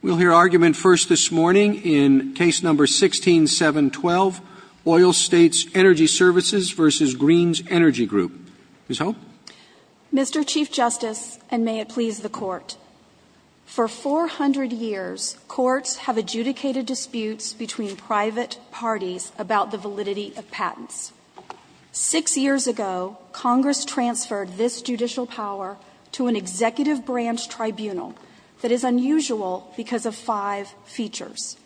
We'll hear argument first this morning in Case No. 16-712, Oil States Energy Services v. Greene's Energy Group. Ms. Hope? Mr. Chief Justice, and may it please the Court, for 400 years, courts have adjudicated disputes between private parties about the validity of patents. Six years ago, Congress transferred this judicial power to an executive branch tribunal that is unusual because of five features.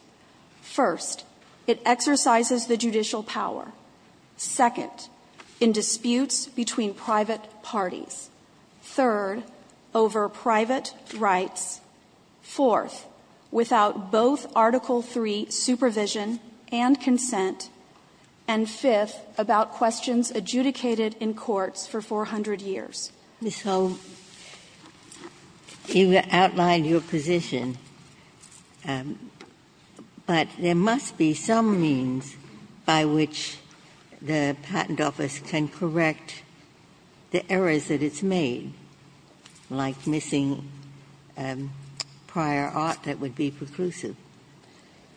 First, it exercises the judicial power. Second, in disputes between private parties. Third, over private rights. Fourth, without both Article III supervision and consent. And fifth, about questions adjudicated in courts for 400 years. Ms. Hope, you outlined your position, but there must be some means by which the patent office can correct the errors that it's made, like missing prior art that would be preclusive.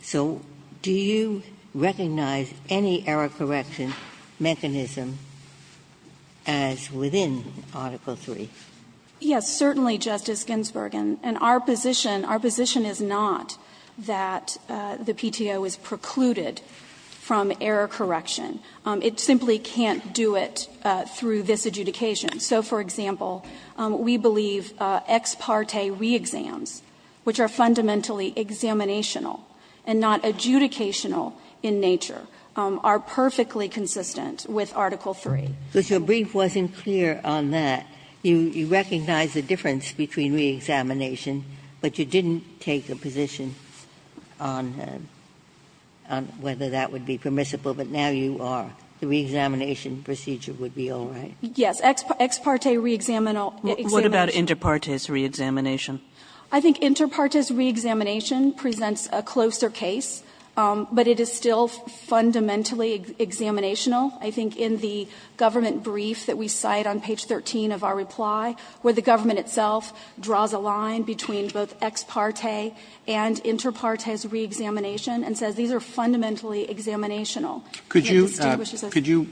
So do you recognize any error correction mechanism as within Article III? Yes, certainly, Justice Ginsburg. And our position, our position is not that the PTO is precluded from error correction. It simply can't do it through this adjudication. So, for example, we believe ex parte re-exams, which are fundamentally examinational and not adjudicational in nature, are perfectly consistent with Article III. But your brief wasn't clear on that. You recognize the difference between re-examination, but you didn't take a position on whether that would be permissible, but now you are. The re-examination procedure would be all right. Yes, ex parte re-examination. What about inter partes re-examination? I think inter partes re-examination presents a closer case, but it is still fundamentally examinational. I think in the government brief that we cite on page 13 of our reply, where the government itself draws a line between both ex parte and inter partes re-examination and says these are fundamentally examinational. Could you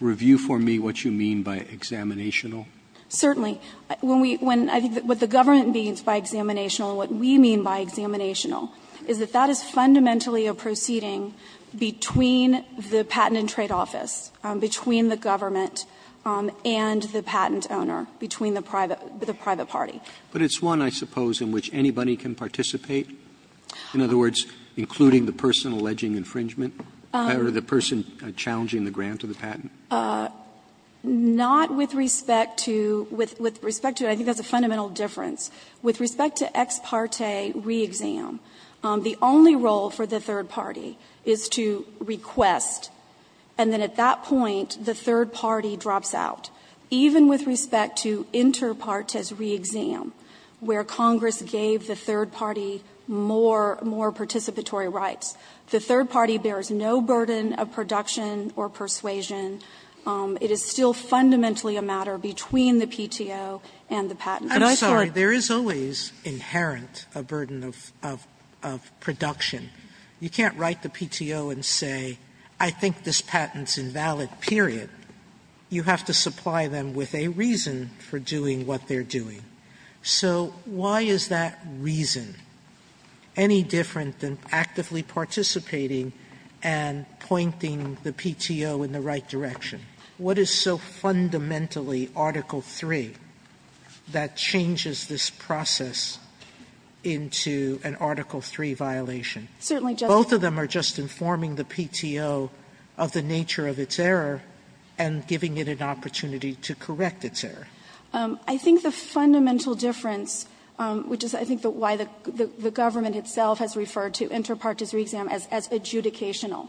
review for me what you mean by examinational? Certainly. I think what the government means by examinational and what we mean by examinational is that that is fundamentally a proceeding between the Patent and Trade Office, between the government and the patent owner, between the private party. But it's one, I suppose, in which anybody can participate, in other words, including the person alleging infringement, or the person challenging the grant or the patent. Not with respect to the fundamental difference. With respect to ex parte re-exam, the only role for the third party is to request, and then at that point the third party drops out. Even with respect to inter partes re-exam, where Congress gave the third party more participatory rights, the third party bears no burden of production or persuasion. It is still fundamentally a matter between the PTO and the patent. Sotomayor, there is always inherent a burden of production. You can't write the PTO and say, I think this patent's invalid, period. You have to supply them with a reason for doing what they're doing. So why is that reason? Any different than actively participating and pointing the PTO in the right direction? What is so fundamentally Article III that changes this process into an Article III violation? Both of them are just informing the PTO of the nature of its error and giving it an opportunity to correct its error. I think the fundamental difference, which is I think why the government itself has referred to inter partes re-exam as adjudicational,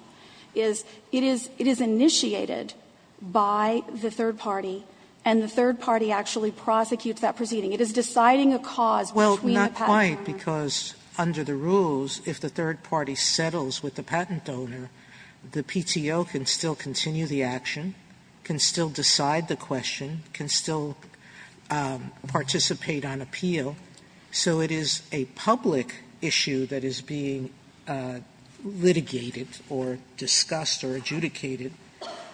is it is initiated by the third party, and the third party actually prosecutes that proceeding. It is deciding a cause between the patent owner. Sotomayor, because under the rules, if the third party settles with the patent owner, the PTO can still continue the action, can still decide the question, can still participate on appeal. So it is a public issue that is being litigated or discussed or adjudicated.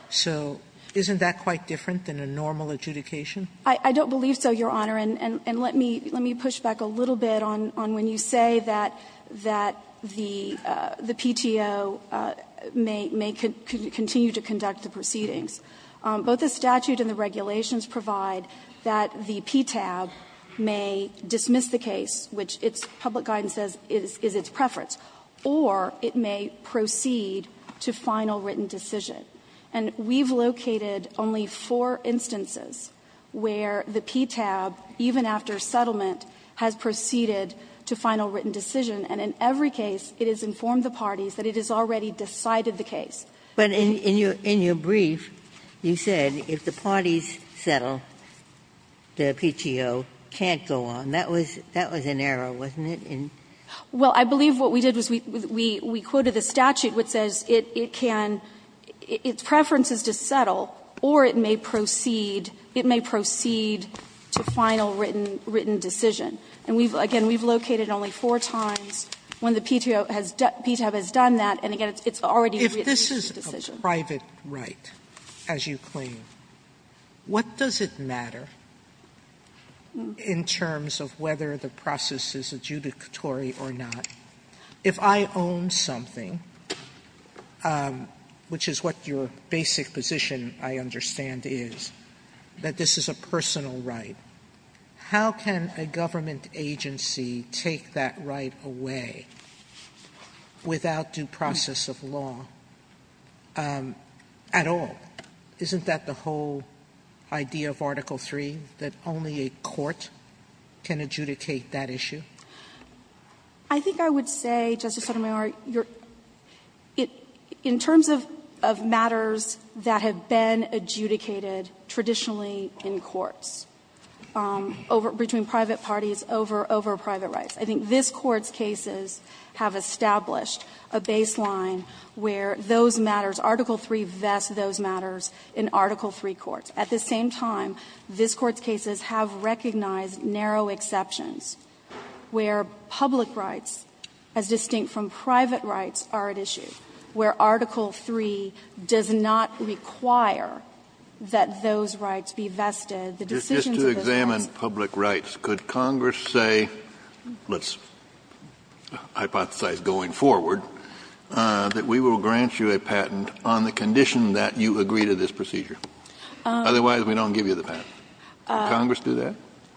So isn't that quite different than a normal adjudication? I don't believe so, Your Honor. And let me push back a little bit on when you say that the PTO may continue to conduct the proceedings. Both the statute and the regulations provide that the PTAB may dismiss the case, which its public guidance says is its preference, or it may proceed to final written decision. And we've located only four instances where the PTAB, even after settlement, has proceeded to final written decision, and in every case it has informed the parties that it has already decided the case. Ginsburg. But in your brief, you said if the parties settle, the PTO can't go on. That was an error, wasn't it? Well, I believe what we did was we quoted the statute, which says it can, its preference is to settle, or it may proceed, it may proceed to final written decision. And we've, again, we've located only four times when the PTAB has done that, and again, it's already made the decision. Sotomayor's Court, Sotomayor's Court, Sotomayor's Court, Sotomayor's Court, Sotomayor's And the question is, in terms of what is in there, in terms of whether the process is adjudicatory or not, if I own something, which is what your basic position, I understand, is, that this is a personal right, how can a government agency take that right away without due process of law at all? Isn't that the whole idea of Article III, that only a court can adjudicate that issue? I think I would say, Justice Sotomayor, in terms of matters that have been adjudicated traditionally in courts, between private parties, over private rights, I think this Court's cases have established a baseline where those matters, Article III vests those matters in Article III courts. At the same time, this Court's cases have recognized narrow exceptions where public rights, as distinct from private rights, are at issue, where Article III does not require that those rights be vested. The decisions of those rights are at issue. Kennedy, just to examine public rights, could Congress say, let's hypothesize going forward, that we will grant you a patent on the condition that you agree to this procedure? Otherwise, we don't give you the patent. Would Congress do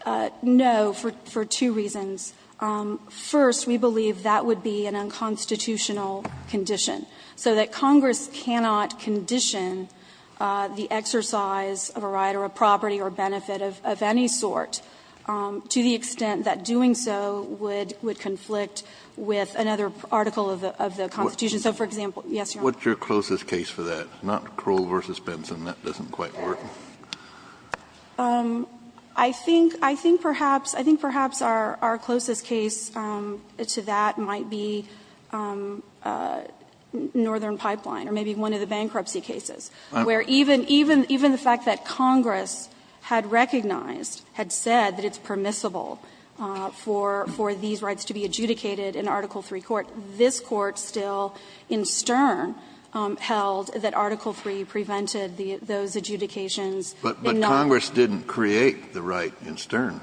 that? No, for two reasons. First, we believe that would be an unconstitutional condition, so that Congress cannot condition the exercise of a right or a property or benefit of any sort to the article of the Constitution. So, for example, yes, Your Honor. Kennedy, what's your closest case for that? Not Krull v. Benson. That doesn't quite work. I think, I think perhaps, I think perhaps our closest case to that might be Northern Pipeline or maybe one of the bankruptcy cases, where even, even the fact that Congress had recognized, had said that it's permissible for these rights to be adjudicated in Article III court, this Court still, in Stern, held that Article III prevented the, those adjudications. But, but Congress didn't create the right in Stern,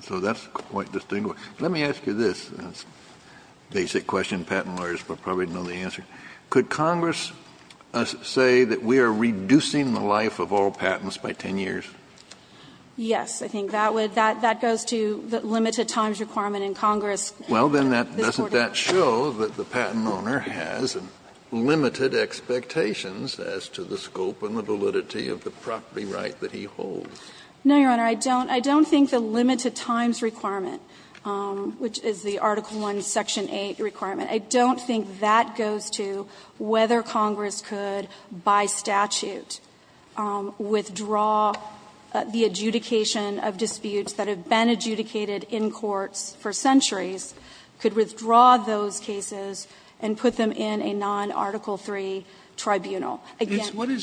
so that's quite distinguished. Let me ask you this, basic question, patent lawyers will probably know the answer. Could Congress say that we are reducing the life of all patents by 10 years? Yes, I think that would, that, that goes to the limited times requirement in Congress. Well, then that, doesn't that show that the patent owner has limited expectations as to the scope and the validity of the property right that he holds? No, Your Honor. I don't, I don't think the limited times requirement, which is the Article I, Section 8 requirement, I don't think that goes to whether Congress could, by statute, withdraw the adjudication of disputes that have been adjudicated in courts for centuries and Congress could withdraw those cases and put them in a non-Article III tribunal. Again, I don't think that goes to whether Congress could, by statute, withdraw the adjudication of disputes that have been adjudicated in courts for centuries and Congress could withdraw those cases and put them in a non-Article III tribunal.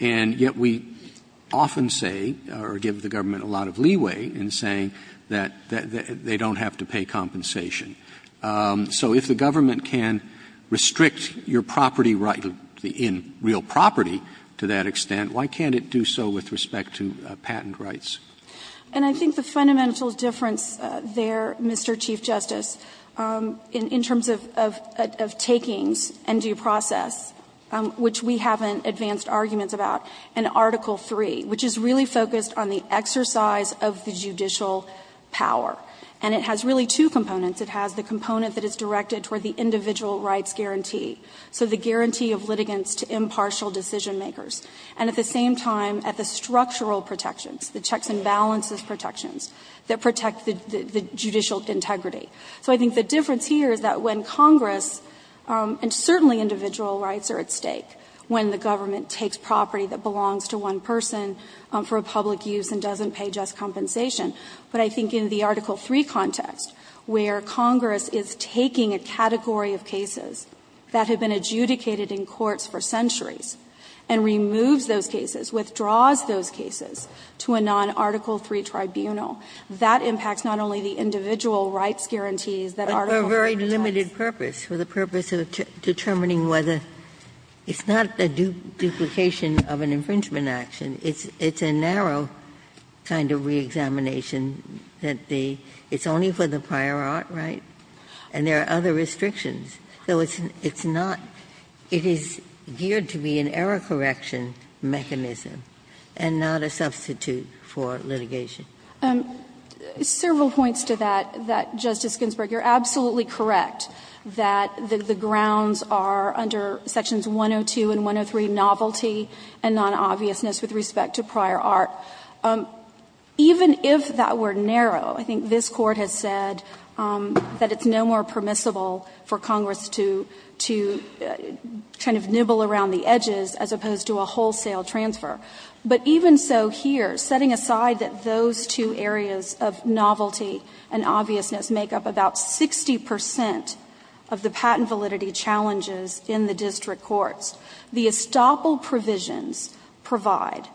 And yet we often say, or give the government a lot of leeway in saying that they don't have to pay compensation. So if the government can restrict your property right in real property to that extent, why can't it do so with respect to patent rights? And I think the fundamental difference there, Mr. Chief Justice, in terms of takings and due process, which we haven't advanced arguments about, in Article III, which is really focused on the exercise of the judicial power, and it has really two components. It has the component that is directed toward the individual rights guarantee, so the guarantee of litigants to impartial decision-makers, and at the same time at the structural protections, the checks and balances protections that protect the judicial integrity. So I think the difference here is that when Congress, and certainly individual rights are at stake when the government takes property that belongs to one person for public use and doesn't pay just compensation, but I think in the Article III context, where Congress is taking a category of cases that have been adjudicated in courts for centuries and removes those cases, withdraws those cases to a non-Article III tribunal, that impacts not only the individual rights guarantee, but it impacts the judicial guarantees that Article III details. Ginsburg's very limited purpose, for the purpose of determining whether it's not a duplication of an infringement action, it's a narrow kind of reexamination that the – it's only for the prior art, right? And there are other restrictions, so it's not – it is geared to be an error-correction mechanism and not a substitute for litigation. Several points to that, that, Justice Ginsburg, you're absolutely correct that the grounds are under Sections 102 and 103, novelty and non-obviousness with respect to prior art. Even if that were narrow, I think this Court has said that it's no more permissible for Congress to kind of nibble around the edges as opposed to a wholesale transfer. But even so here, setting aside that those two areas of novelty and obviousness make up about 60 percent of the patent validity challenges in the district courts, the estoppel provisions provide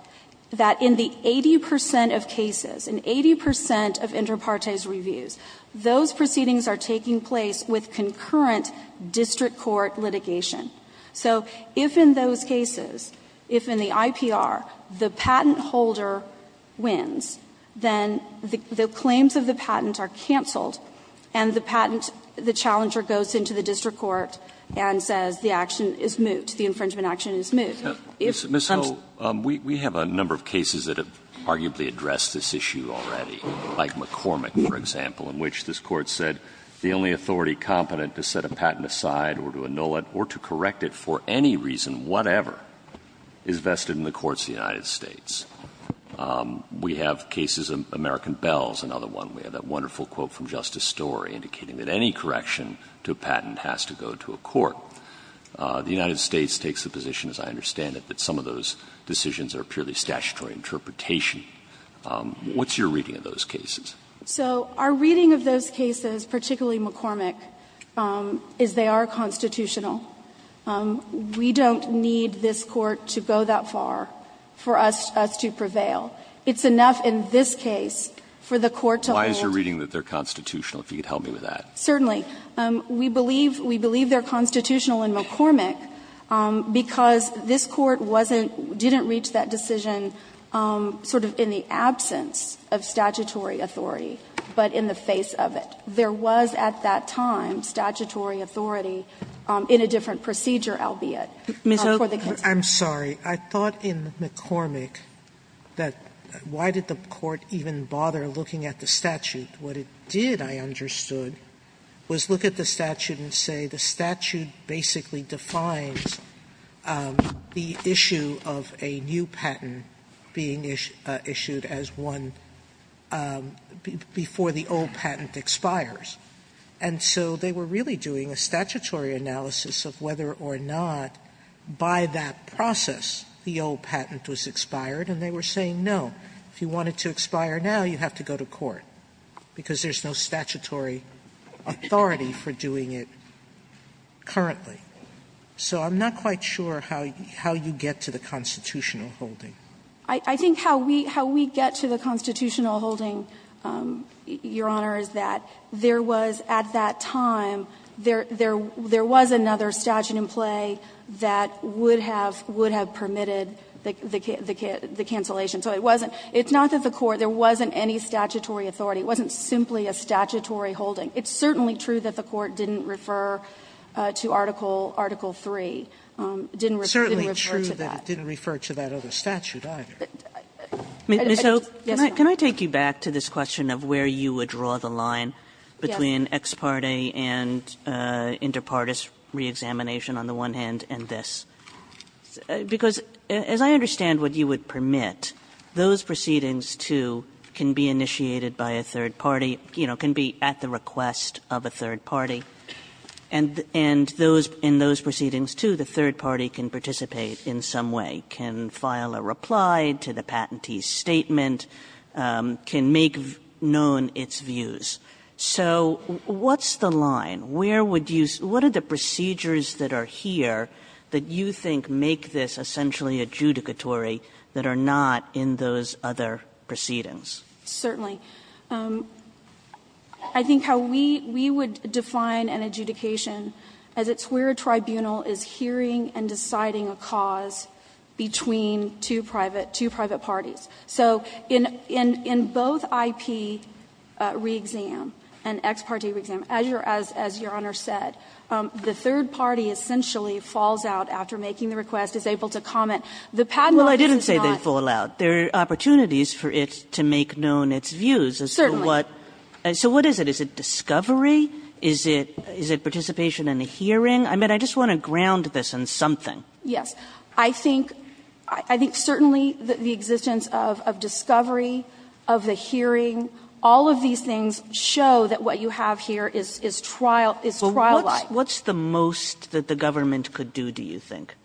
that in the 80 percent of cases, in 80 percent of inter partes reviews, those proceedings are taking place with concurrent district court litigation. So if in those cases, if in the IPR, the patent holder wins, then the claims of the patent are canceled and the patent, the challenger goes into the district court and says the action is moot, the infringement action is moot. If it comes to that. Alito, we have a number of cases that have arguably addressed this issue already, like McCormick, for example, in which this Court said the only authority competent to set a patent aside or to annul it or to correct it for any reason, whatever, is vested in the courts of the United States. We have cases, American Bell is another one. We have that wonderful quote from Justice Story indicating that any correction to a patent has to go to a court. The United States takes the position, as I understand it, that some of those decisions are purely statutory interpretation. What's your reading of those cases? So our reading of those cases, particularly McCormick, is they are constitutional. We don't need this Court to go that far for us to prevail. It's enough in this case for the Court to hold. Why is your reading that they are constitutional, if you could help me with that? Certainly. We believe they are constitutional in McCormick because this Court wasn't, didn't reach that decision sort of in the absence of statutory authority, but in the face of it. There was at that time statutory authority in a different procedure, albeit, for the case. Sotomayor, I'm sorry. I thought in McCormick that why did the Court even bother looking at the statute? What it did, I understood, was look at the statute and say the statute basically defines the issue of a new patent being issued as one before the old patent expires. And so they were really doing a statutory analysis of whether or not by that process the old patent was expired, and they were saying, no, if you want it to expire now, you have to go to court, because there's no statutory authority for doing it currently. So I'm not quite sure how you get to the constitutional holding. I think how we get to the constitutional holding, Your Honor, is that there was at that time, there was another statute in play that would have permitted the cancellation. So it wasn't, it's not that the Court, there wasn't any statutory authority. It wasn't simply a statutory holding. It's certainly true that the Court didn't refer to Article III, didn't refer to that. Sotomayor, so can I take you back to this question of where you would draw the line between ex parte and inter partes reexamination on the one hand and this? Because as I understand what you would permit, those proceedings, too, can be initiated by a third party, you know, can be at the request of a third party, and in those proceedings, too, the third party can participate in some way, can file a reply to the patentee's statement, can make known its views. So what's the line? Where would you say, what are the procedures that are here that you think make this essentially adjudicatory that are not in those other proceedings? Certainly. I think how we would define an adjudication as it's where a tribunal is hearing and deciding a cause between two private, two private parties. So in both IP reexam and ex parte reexam, as Your Honor said, the third party essentially falls out after making the request, is able to comment. The patent office is not. Well, I didn't say they fall out. There are opportunities for it to make known its views. Certainly. So what is it? Is it discovery? Is it participation in a hearing? I mean, I just want to ground this in something. Yes. I think certainly the existence of discovery, of the hearing, all of these things show that what you have here is trial-like. What's the most that the government could do, do you think?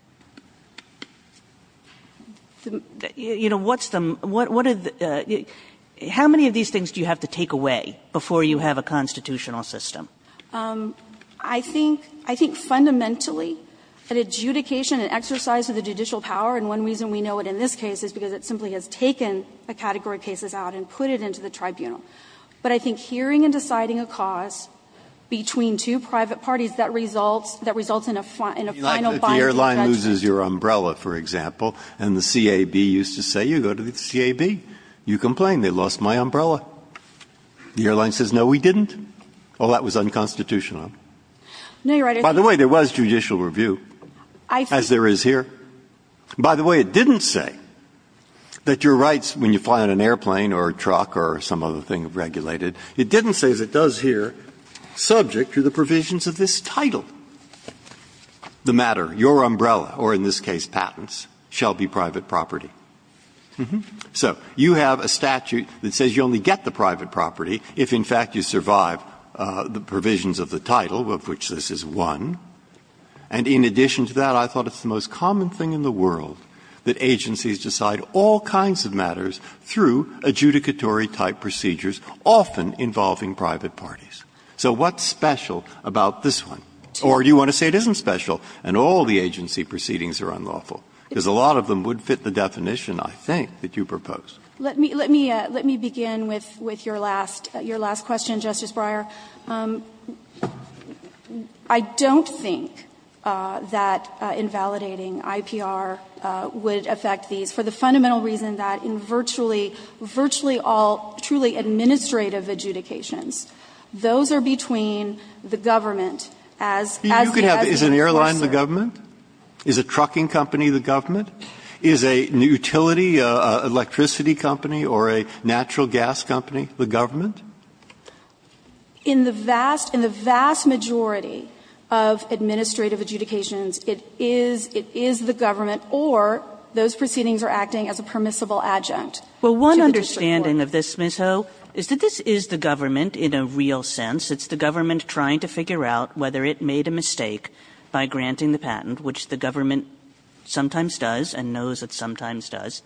You know, what's the what are the how many of these things do you have to take away before you have a constitutional system? I think fundamentally an adjudication, an exercise of the judicial power, and one reason we know it in this case is because it simply has taken a category of cases out and put it into the tribunal. But I think hearing and deciding a cause between two private parties that results in a final binding judgment. If the airline loses your umbrella, for example, and the CAB used to say, you go to the CAB, you complain, they lost my umbrella. The airline says, no, we didn't. Well, that was unconstitutional. No, you're right. By the way, there was judicial review, as there is here. By the way, it didn't say that your rights when you fly on an airplane or a truck or some other thing regulated, it didn't say as it does here, subject to the provisions of this title, the matter, your umbrella, or in this case, patents, shall be private property. So you have a statute that says you only get the private property if, in fact, you survive the provisions of the title, of which this is one. And in addition to that, I thought it's the most common thing in the world that agencies decide all kinds of matters through adjudicatory-type procedures, often involving private parties. So what's special about this one? Or do you want to say it isn't special and all the agency proceedings are unlawful? Because a lot of them would fit the definition, I think, that you proposed. Let me begin with your last question, Justice Breyer. I don't think that invalidating IPR would affect these for the fundamental reason that in virtually all truly administrative adjudications, those that are not administrative, those are between the government as the adjudicator. Breyer, is an airline the government? Is a trucking company the government? Is a utility, an electricity company, or a natural gas company the government? In the vast majority of administrative adjudications, it is the government or those proceedings are acting as a permissible adjunct to the district court. Kagan in this, Ms. Ho, is that this is the government in a real sense. It's the government trying to figure out whether it made a mistake by granting the patent, which the government sometimes does and knows it sometimes does.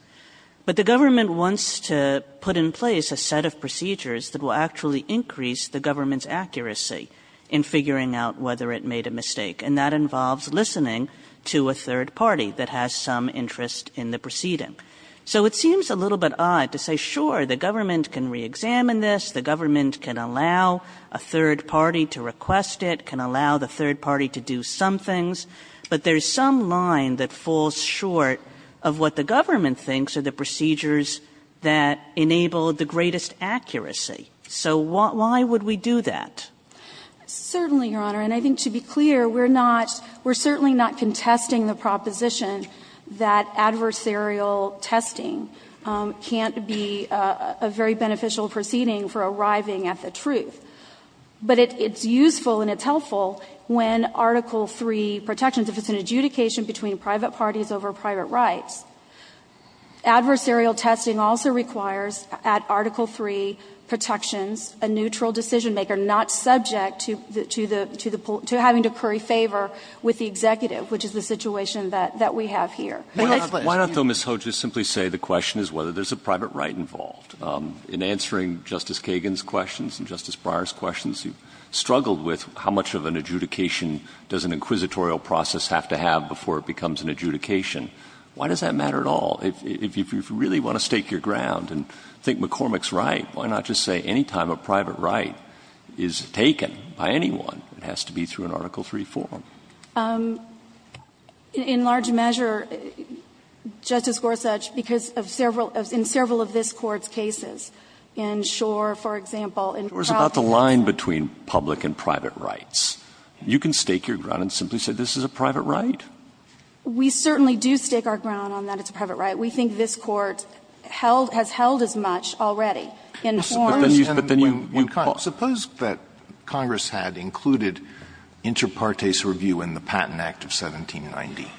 But the government wants to put in place a set of procedures that will actually increase the government's accuracy in figuring out whether it made a mistake. And that involves listening to a third party that has some interest in the proceeding. So it seems a little bit odd to say, sure, the government can reexamine this, the government can allow a third party to request it, can allow the third party to do some things, but there's some line that falls short of what the government thinks are the procedures that enable the greatest accuracy. So why would we do that? Hootman, certainly, Your Honor. And I think to be clear, we're not we're certainly not contesting the proposition that adversarial testing can't be a very beneficial proceeding for arriving at the truth. But it's useful and it's helpful when Article III protections, if it's an adjudication between private parties over private rights. Adversarial testing also requires at Article III protections a neutral decision maker not subject to having to curry favor with the executive, which is the situation that we have here. Why don't, though, Ms. Hootman, just simply say the question is whether there's a private right involved. In answering Justice Kagan's questions and Justice Breyer's questions, you've struggled with how much of an adjudication does an inquisitorial process have to have before it becomes an adjudication. Why does that matter at all? If you really want to stake your ground and think McCormick's right, why not just say any time a private right is taken by anyone, it has to be through an Article III form? Hootman, in large measure, Justice Gorsuch, because of several of this Court's cases, in Shore, for example, in Procter and Gamble. Breyer's about the line between public and private rights. You can stake your ground and simply say this is a private right? We certainly do stake our ground on that it's a private right. We think this Court has held as much already in forms and when Congress had included Inter Partes Review in the Patent Act of 1790,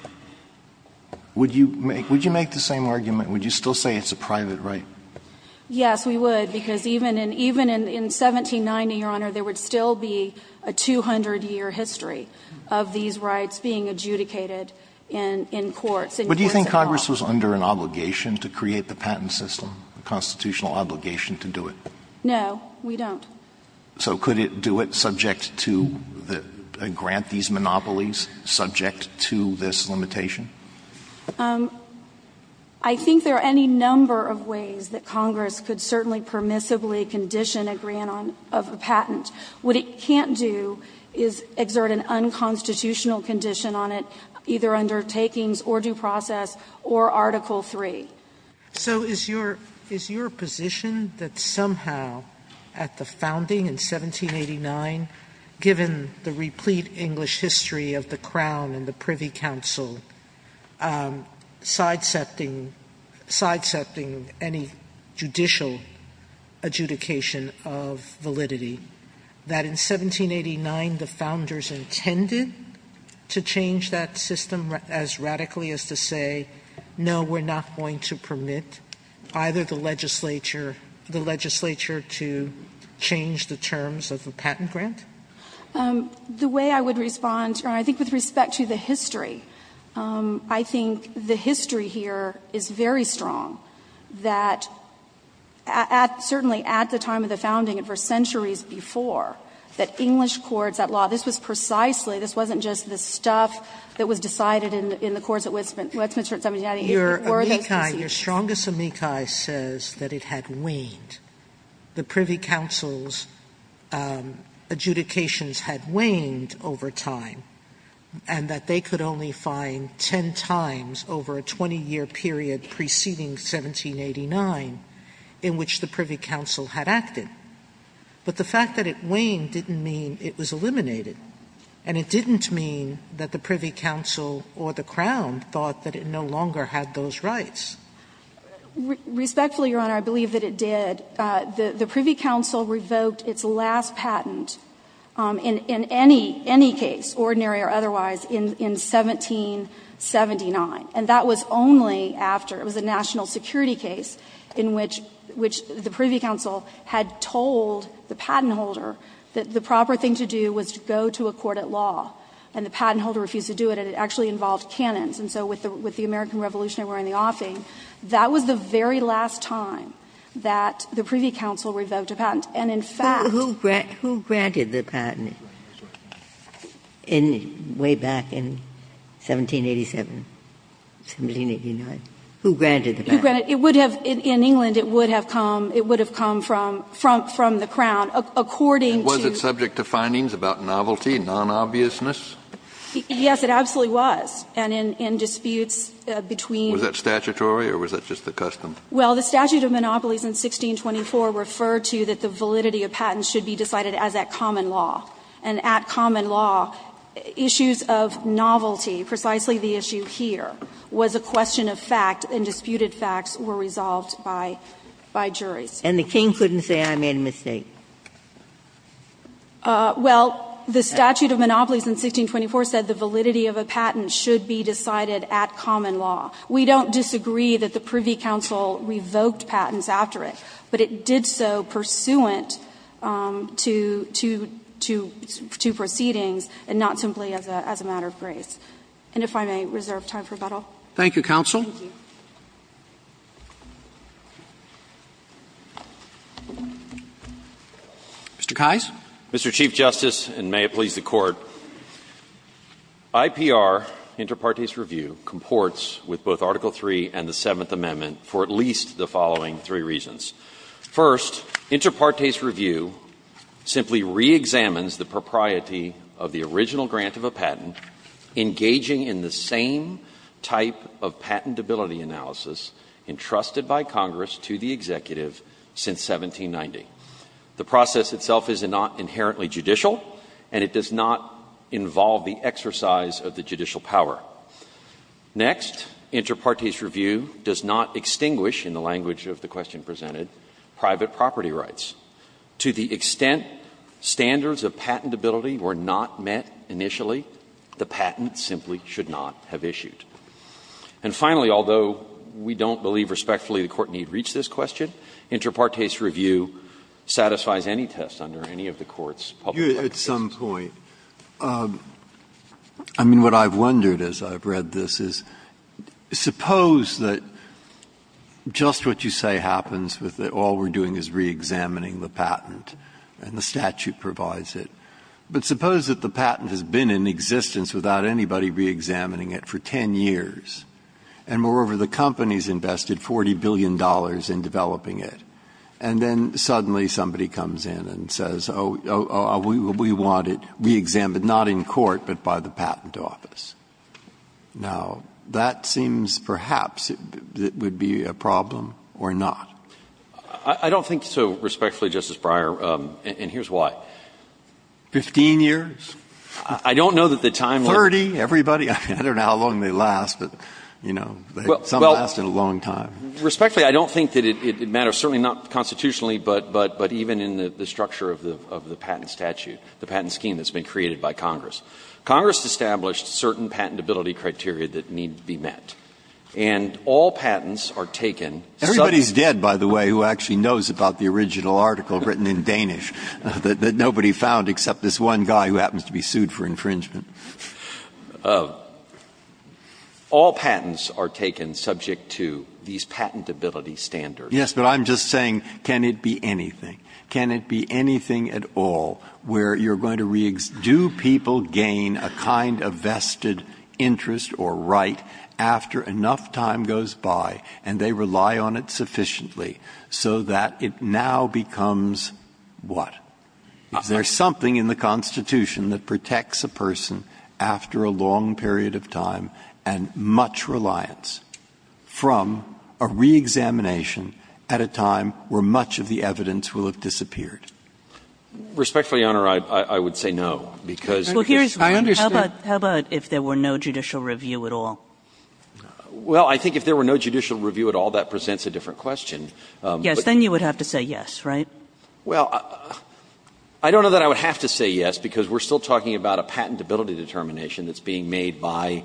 would you make the same argument? Would you still say it's a private right? Yes, we would, because even in 1790, Your Honor, there would still be a 200-year history of these rights being adjudicated in courts. But do you think Congress was under an obligation to create the patent system, a constitutional obligation to do it? No, we don't. So could it do it subject to the grant these monopolies subject to this limitation? I think there are any number of ways that Congress could certainly permissibly condition a grant of a patent. What it can't do is exert an unconstitutional condition on it, either under takings or due process or Article III. So is your position that somehow at the founding in 1789, given the replete English history of the Crown and the Privy Council, sidesetting any judicial adjudication of validity, that in 1789 the founders intended to change that system as radically as to say, no, we're not going to permit either the legislature to change the terms of the patent grant? The way I would respond, Your Honor, I think with respect to the history, I think the history here is very strong, that at the time of the founding and for centuries before, that English courts at law, this was precisely, this wasn't just the stuff that was decided in the courts at Westminster at 1789, it were those procedures. Sotomayor Your amici, your strongest amici says that it had waned. The Privy Council's adjudications had waned over time, and that they could only find 10 times over a 20-year period preceding 1789 in which the Privy Council had acted. But the fact that it waned didn't mean it was eliminated, and it didn't mean that the Privy Council or the Crown thought that it no longer had those rights. Respectfully, Your Honor, I believe that it did. The Privy Council revoked its last patent in any case, ordinary or otherwise, in 1779, and that was only after it was a national security case in which the Privy Council had told the patent holder that the proper thing to do was to go to a court of law, and the patent holder refused to do it, and it actually involved cannons. And so with the American Revolutionary War and the offing, that was the very last time that the Privy Council revoked a patent. And, in fact the patent in way back in 1787, 1789, who granted the patent? It would have, in England, it would have come, it would have come from, from the Crown, according to. Kennedy Was it subject to findings about novelty, non-obviousness? Yes, it absolutely was. And in disputes between. Was that statutory or was that just the custom? Well, the statute of monopolies in 1624 referred to that the validity of patents should be decided as at common law. And at common law, issues of novelty, precisely the issue here, was a question of fact, and disputed facts were resolved by, by juries. And the King couldn't say, I made a mistake. Well, the statute of monopolies in 1624 said the validity of a patent should be decided at common law. We don't disagree that the Privy Council revoked patents after it, but it did so pursuant to, to, to proceedings and not simply as a, as a matter of grace. And if I may reserve time for rebuttal. Thank you, counsel. Thank you. Mr. Keyes. Mr. Chief Justice, and may it please the Court, IPR, Inter Partes Review, comports with both Article III and the Seventh Amendment for at least the following three reasons. First, Inter Partes Review simply reexamines the propriety of the original grant of a patent engaging in the same type of patentability analysis entrusted by Congress to the executive since 1790. The process itself is not inherently judicial, and it does not involve the exercise of the judicial power. Next, Inter Partes Review does not extinguish, in the language of the question presented, private property rights. To the extent standards of patentability were not met initially, the patent simply should not have issued. And finally, although we don't believe respectfully the Court need reach this question, Inter Partes Review satisfies any test under any of the Court's public practice. Breyer, at some point. I mean, what I've wondered as I've read this is, suppose that just what you say happens with all we're doing is reexamining the patent and the statute provides it. But suppose that the patent has been in existence without anybody reexamining it for 10 years, and moreover, the company's invested $40 billion in developing it, and then suddenly somebody comes in and says, oh, we want it reexamined, not in court, but by the patent office. Now, that seems perhaps it would be a problem or not. I don't think so, respectfully, Justice Breyer. And here's why. Fifteen years? I don't know that the timeline 30, everybody. I don't know how long they last, but, you know, some last in a long time. Respectfully, I don't think that it matters, certainly not constitutionally, but even in the structure of the patent statute, the patent scheme that's been created by Congress. Congress established certain patentability criteria that need to be met. And all patents are taken. Everybody's dead, by the way, who actually knows about the original article written in Danish that nobody found except this one guy who happens to be sued for infringement. All patents are taken subject to these patentability standards. Yes, but I'm just saying, can it be anything? Can it be anything at all where you're going to reexamine, do people gain a kind of vested interest or right after enough time goes by and they rely on it sufficiently so that it now becomes what? Is there something in the Constitution that protects a person after a long period of time and much reliance from a reexamination at a time where much of the evidence will have disappeared? Respectfully, Your Honor, I would say no, because there's no reason to do that. How about if there were no judicial review at all? Well, I think if there were no judicial review at all, that presents a different question. Yes, then you would have to say yes, right? Well, I don't know that I would have to say yes, because we're still talking about a patentability determination that's being made by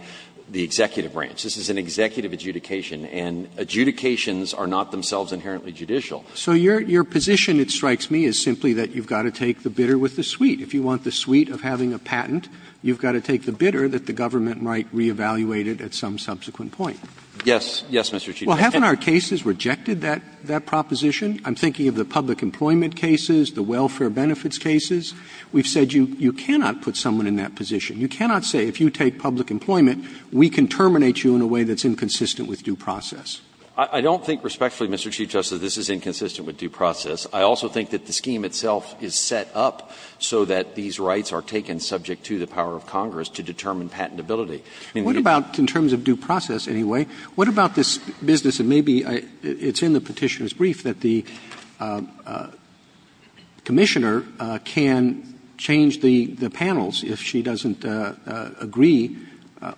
the executive branch. This is an executive adjudication, and adjudications are not themselves inherently judicial. So your position, it strikes me, is simply that you've got to take the bitter with the sweet. If you want the sweet of having a patent, you've got to take the bitter that the government might reevaluate it at some subsequent point. Yes. Yes, Mr. Chief Justice. Well, haven't our cases rejected that proposition? I'm thinking of the public employment cases, the welfare benefits cases. We've said you cannot put someone in that position. You cannot say if you take public employment, we can terminate you in a way that's inconsistent with due process. I don't think respectfully, Mr. Chief Justice, this is inconsistent with due process. I also think that the scheme itself is set up so that these rights are taken subject to the power of Congress to determine patentability. there's a lot of other things that you can do. Roberts, I mean, what about, in terms of due process, anyway, what about this business that maybe it's in the Petitioner's Brief that the Commissioner can change the panels if she doesn't agree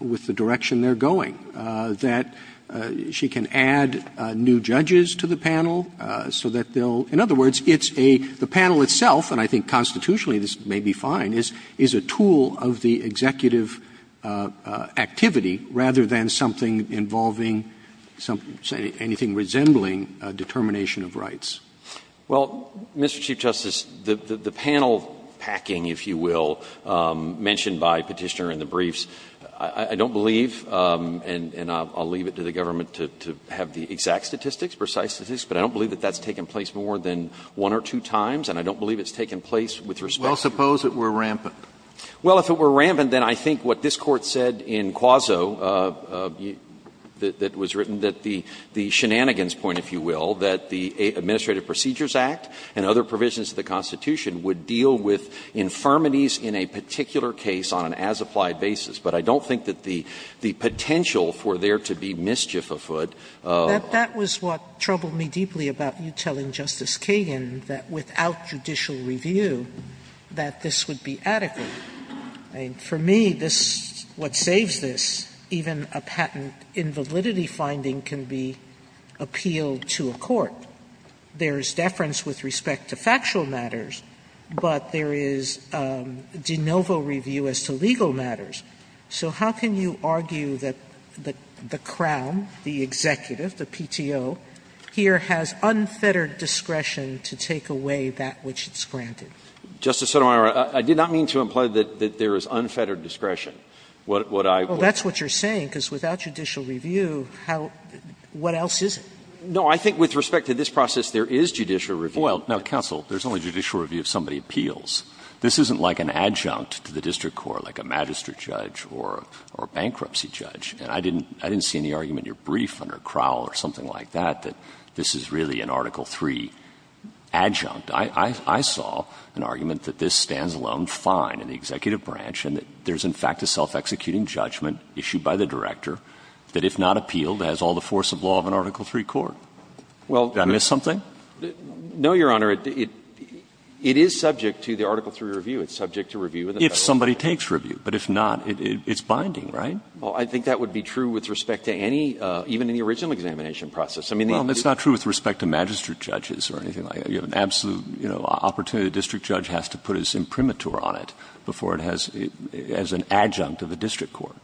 with the direction they're going, that she can add new judges to the panel so that they'll – in other words, it's a – the panel itself, and I think constitutionally this may be fine, is a tool of the executive activity rather than something involving anything resembling a determination of rights. Well, Mr. Chief Justice, the panel packing, if you will, mentioned by Petitioner in the briefs, I don't believe, and I'll leave it to the government to have the exact statistics, precise statistics, but I don't believe that that's taken place more than one or two times, and I don't believe it's taken place with respect to the Court. Well, suppose it were rampant. Well, if it were rampant, then I think what this Court said in Quazzo that was written, that the shenanigans point, if you will, that the Administrative Procedures Act and other provisions of the Constitution would deal with infirmities in a particular case on an as-applied basis. But I don't think that the potential for there to be mischief afoot of the Court is what troubled me deeply about you telling Justice Kagan that without judicial review that this would be adequate. I mean, for me, this what saves this, even a patent invalidity finding can be appealed to a court. There is deference with respect to factual matters, but there is de novo review as to legal matters. So how can you argue that the Crown, the executive, the PTO, here has unfettered discretion to take away that which it's granted? Justice Sotomayor, I did not mean to imply that there is unfettered discretion. What I would say is that without judicial review, what else is it? No, I think with respect to this process, there is judicial review. Well, now, counsel, there's only judicial review if somebody appeals. This isn't like an adjunct to the district court, like a magistrate judge or a bankruptcy judge. And I didn't see any argument in your brief under Crowell or something like that, that this is really an Article III adjunct. I saw an argument that this stands alone fine in the executive branch and that there is, in fact, a self-executing judgment issued by the director that if not appealed, has all the force of law of an Article III court. Did I miss something? No, Your Honor. It is subject to the Article III review. It's subject to review. If somebody takes review. But if not, it's binding, right? Well, I think that would be true with respect to any, even in the original examination I mean, the other people don't agree with that. Well, it's not true with respect to magistrate judges or anything like that. You have an absolute opportunity. A district judge has to put his imprimatur on it before it has an adjunct of the district court.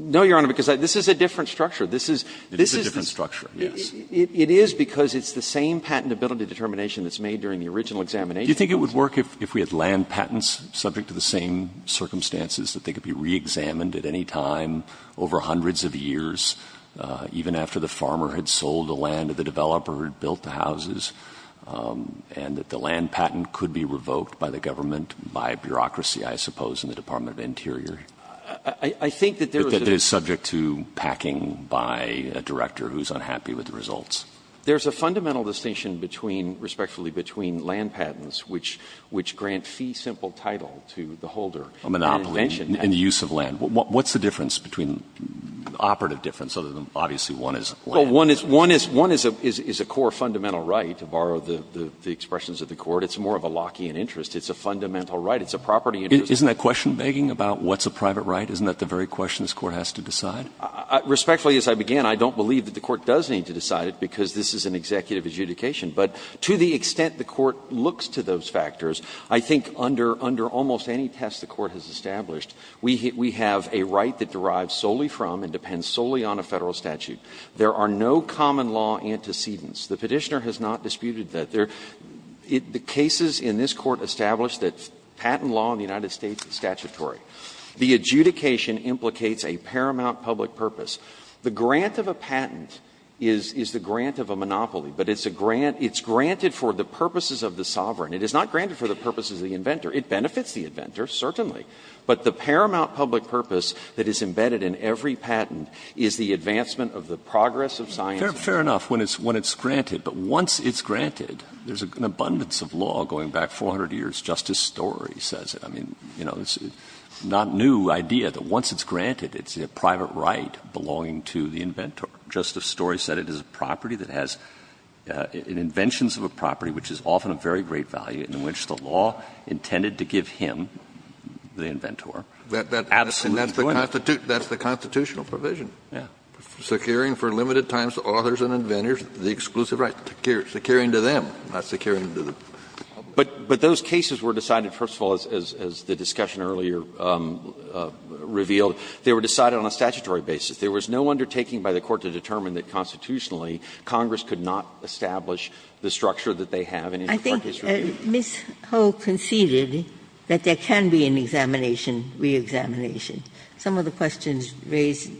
No, Your Honor, because this is a different structure. This is the same patent. It's the same patentability determination that's made during the original examination. Do you think it would work if we had land patents subject to the same circumstances that they could be reexamined at any time over hundreds of years, even after the farmer had sold the land, or the developer had built the houses, and that the land patent could be revoked by the government by bureaucracy, I suppose, in the Department of Interior? I think that there is a distinction. But that it is subject to packing by a director who is unhappy with the results. There is a fundamental distinction between, respectfully, between land patents, which grant fee-simple title to the holder. A monopoly in the use of land. What's the difference between the operative difference, other than obviously one is land? Well, one is a core fundamental right, to borrow the expressions of the Court. It's more of a Lockean interest. It's a fundamental right. It's a property interest. Isn't that question begging about what's a private right? Isn't that the very question this Court has to decide? Respectfully, as I began, I don't believe that the Court does need to decide it, because this is an executive adjudication. But to the extent the Court looks to those factors, I think under almost any test the Court has established, we have a right that derives solely from and depends solely on a Federal statute. There are no common law antecedents. The Petitioner has not disputed that. The cases in this Court establish that patent law in the United States is statutory. The adjudication implicates a paramount public purpose. The grant of a patent is the grant of a monopoly, but it's a grant — it's granted for the purposes of the sovereign. It is not granted for the purposes of the inventor. It benefits the inventor, certainly. But the paramount public purpose that is embedded in every patent is the advancement of the progress of science. Verrilli, Fair enough, when it's granted. But once it's granted, there's an abundance of law going back 400 years, Justice Story says it. I mean, you know, it's not a new idea that once it's granted, it's a private right belonging to the inventor. Justice Story said it is a property that has an inventions of a property which is often of very great value in which the law intended to give him, the inventor, absolute enjoyment. Kennedy, that's the constitutional provision. Verrilli, yeah. Kennedy, securing for limited times authors and inventors the exclusive right. Verrilli, securing to them, not securing to them. But those cases were decided, first of all, as the discussion earlier revealed, they were decided on a statutory basis. There was no undertaking by the Court to determine that constitutionally Congress could not establish the structure that they have. And in the current case review. Ginsburg, I think Ms. Ho conceded that there can be an examination, reexamination. Some of the questions raised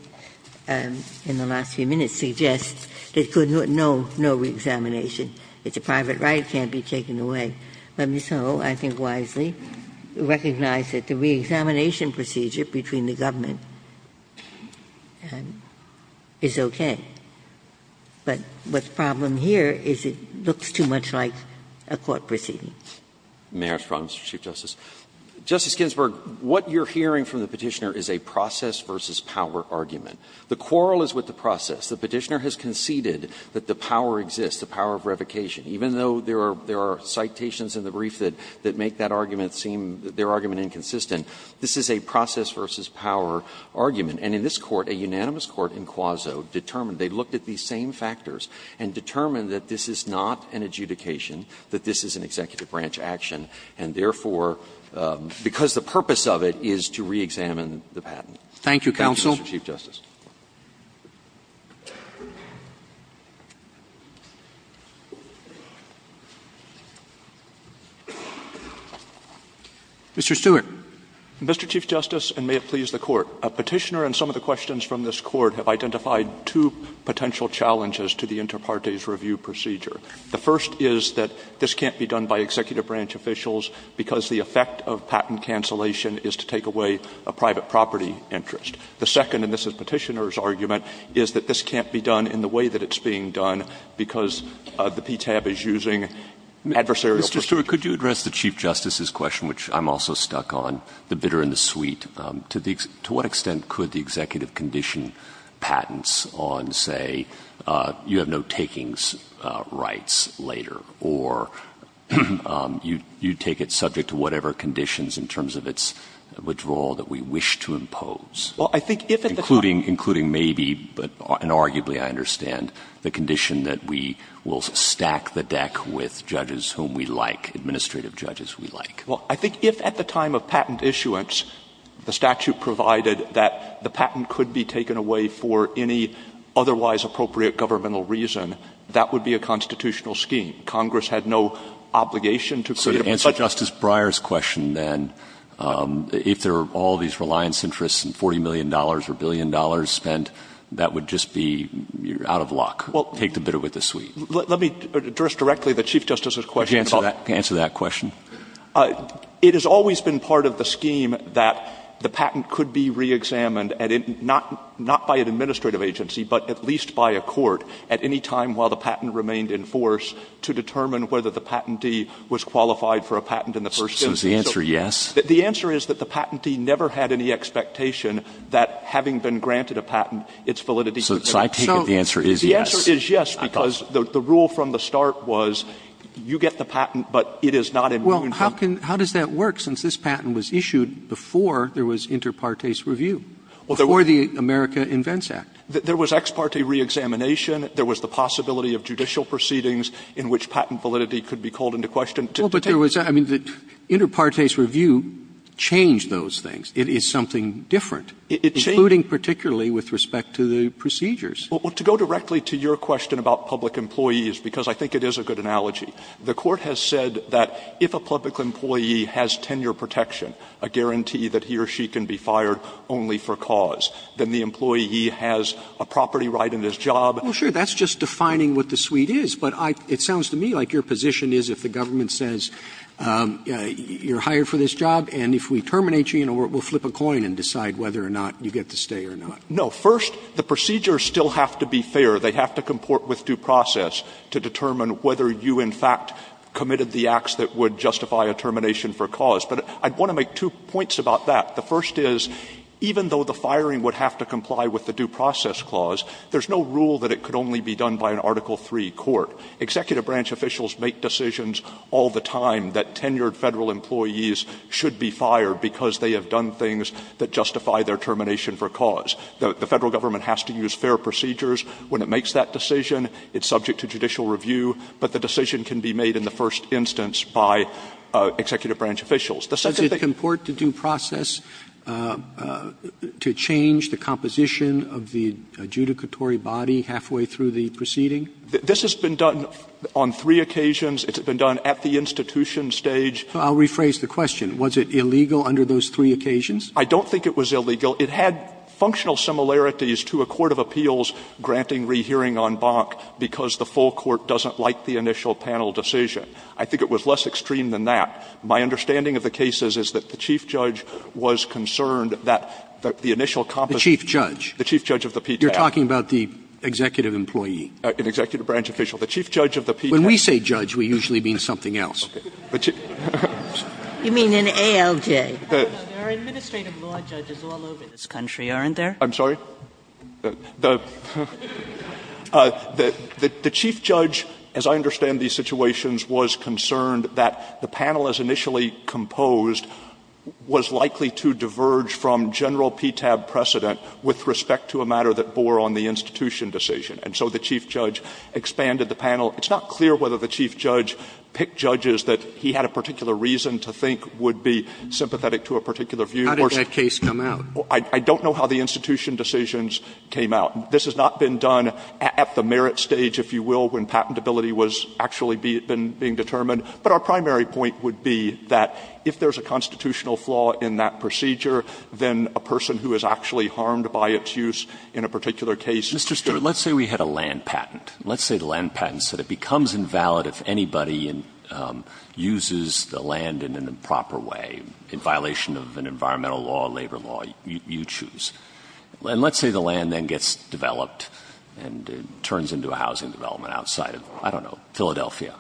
in the last few minutes suggest that there could be no reexamination. It's a private right. It can't be taken away. But Ms. Ho, I think wisely, recognized that the reexamination procedure between the government is okay. But the problem here is it looks too much like a court proceeding. May I ask a problem, Mr. Chief Justice? Justice Ginsburg, what you're hearing from the Petitioner is a process versus power argument. The quarrel is with the process. The Petitioner has conceded that the power exists, the power of revocation. Even though there are citations in the brief that make that argument seem, their argument inconsistent, this is a process versus power argument. And in this Court, a unanimous court in Quazo determined, they looked at these same factors and determined that this is not an adjudication, that this is an executive branch action, and therefore, because the purpose of it is to reexamine the patent. Thank you, Mr. Chief Justice. Mr. Stewart. Mr. Chief Justice, and may it please the Court. A Petitioner and some of the questions from this Court have identified two potential challenges to the inter partes review procedure. The first is that this can't be done by executive branch officials because the effect of patent cancellation is to take away a private property interest. The second, and this is Petitioner's argument, is that this can't be done in the way that it's being done because the PTAB is using adversarial procedures. Mr. Stewart, could you address the Chief Justice's question, which I'm also stuck on, the bitter and the sweet? To what extent could the executive condition patents on, say, you have no takings rights later, or you take it subject to whatever conditions in terms of its withdrawal that we wish to impose? Well, I think if at the time Including maybe, and arguably I understand, the condition that we will stack the deck with judges whom we like, administrative judges we like. Well, I think if at the time of patent issuance the statute provided that the patent could be taken away for any otherwise appropriate governmental reason, that would be a constitutional scheme. Congress had no obligation to create a budget So to answer Justice Breyer's question, then, if there are all these reliance interests and $40 million or $1 billion spent, that would just be out of luck. Take the bitter with the sweet. Well, let me address directly the Chief Justice's question. Could you answer that question? It has always been part of the scheme that the patent could be reexamined, not by an administrative agency, but at least by a court at any time while the patent remained in force to determine whether the patentee was qualified for a patent in the first instance. So is the answer yes? The answer is that the patentee never had any expectation that having been granted a patent, its validity could be determined. So I take it the answer is yes. The answer is yes, because the rule from the start was you get the patent, but it is not immune from Well, how can how does that work, since this patent was issued before there was inter partes review, before the America Invents Act? There was ex parte reexamination. There was the possibility of judicial proceedings in which patent validity could be called into question to determine I mean, the inter partes review changed those things. It is something different, including particularly with respect to the procedures. Well, to go directly to your question about public employees, because I think it is a good analogy, the Court has said that if a public employee has tenure protection, a guarantee that he or she can be fired only for cause, then the employee has a property right in his job. Well, sure, that's just defining what the suite is. But it sounds to me like your position is if the government says you are hired for this job, and if we terminate you, we will flip a coin and decide whether or not you get to stay or not. No. First, the procedures still have to be fair. They have to comport with due process to determine whether you in fact committed the acts that would justify a termination for cause. But I want to make two points about that. The first is, even though the firing would have to comply with the due process clause, there is no rule that it could only be done by an Article III court. Executive branch officials make decisions all the time that tenured Federal employees should be fired because they have done things that justify their termination for cause. The Federal government has to use fair procedures when it makes that decision. It's subject to judicial review. But the decision can be made in the first instance by executive branch officials. The second thing you can do is to make a decision in the second instance by an executive I don't think it was illegal under those three occasions, but I think it was less extreme than that. It had functional similarities to a court of appeals granting re-hearing on Bonk because the full court doesn't like the initial panel decision. The Chief Judge of the Pete Brown. You're talking about the executive employee. An executive branch official. The Chief Judge of the Pete Brown. When we say judge, we usually mean something else. You mean an ALJ. There are administrative law judges all over this country, aren't there? I'm sorry? The Chief Judge, as I understand these situations, was concerned that the panel is initially composed was likely to diverge from general PTAB precedent with respect to a matter that bore on the institution decision. And so the Chief Judge expanded the panel. It's not clear whether the Chief Judge picked judges that he had a particular reason to think would be sympathetic to a particular view. How did that case come out? I don't know how the institution decisions came out. This has not been done at the merit stage, if you will, when patentability was actually being determined. But our primary point would be that if there's a constitutional flaw in that procedure, then a person who is actually harmed by its use in a particular case. Mr. Stewart, let's say we had a land patent. Let's say the land patent said it becomes invalid if anybody uses the land in an improper way, in violation of an environmental law, labor law, you choose. And let's say the land then gets developed and it turns into a housing development outside of, I don't know, Philadelphia.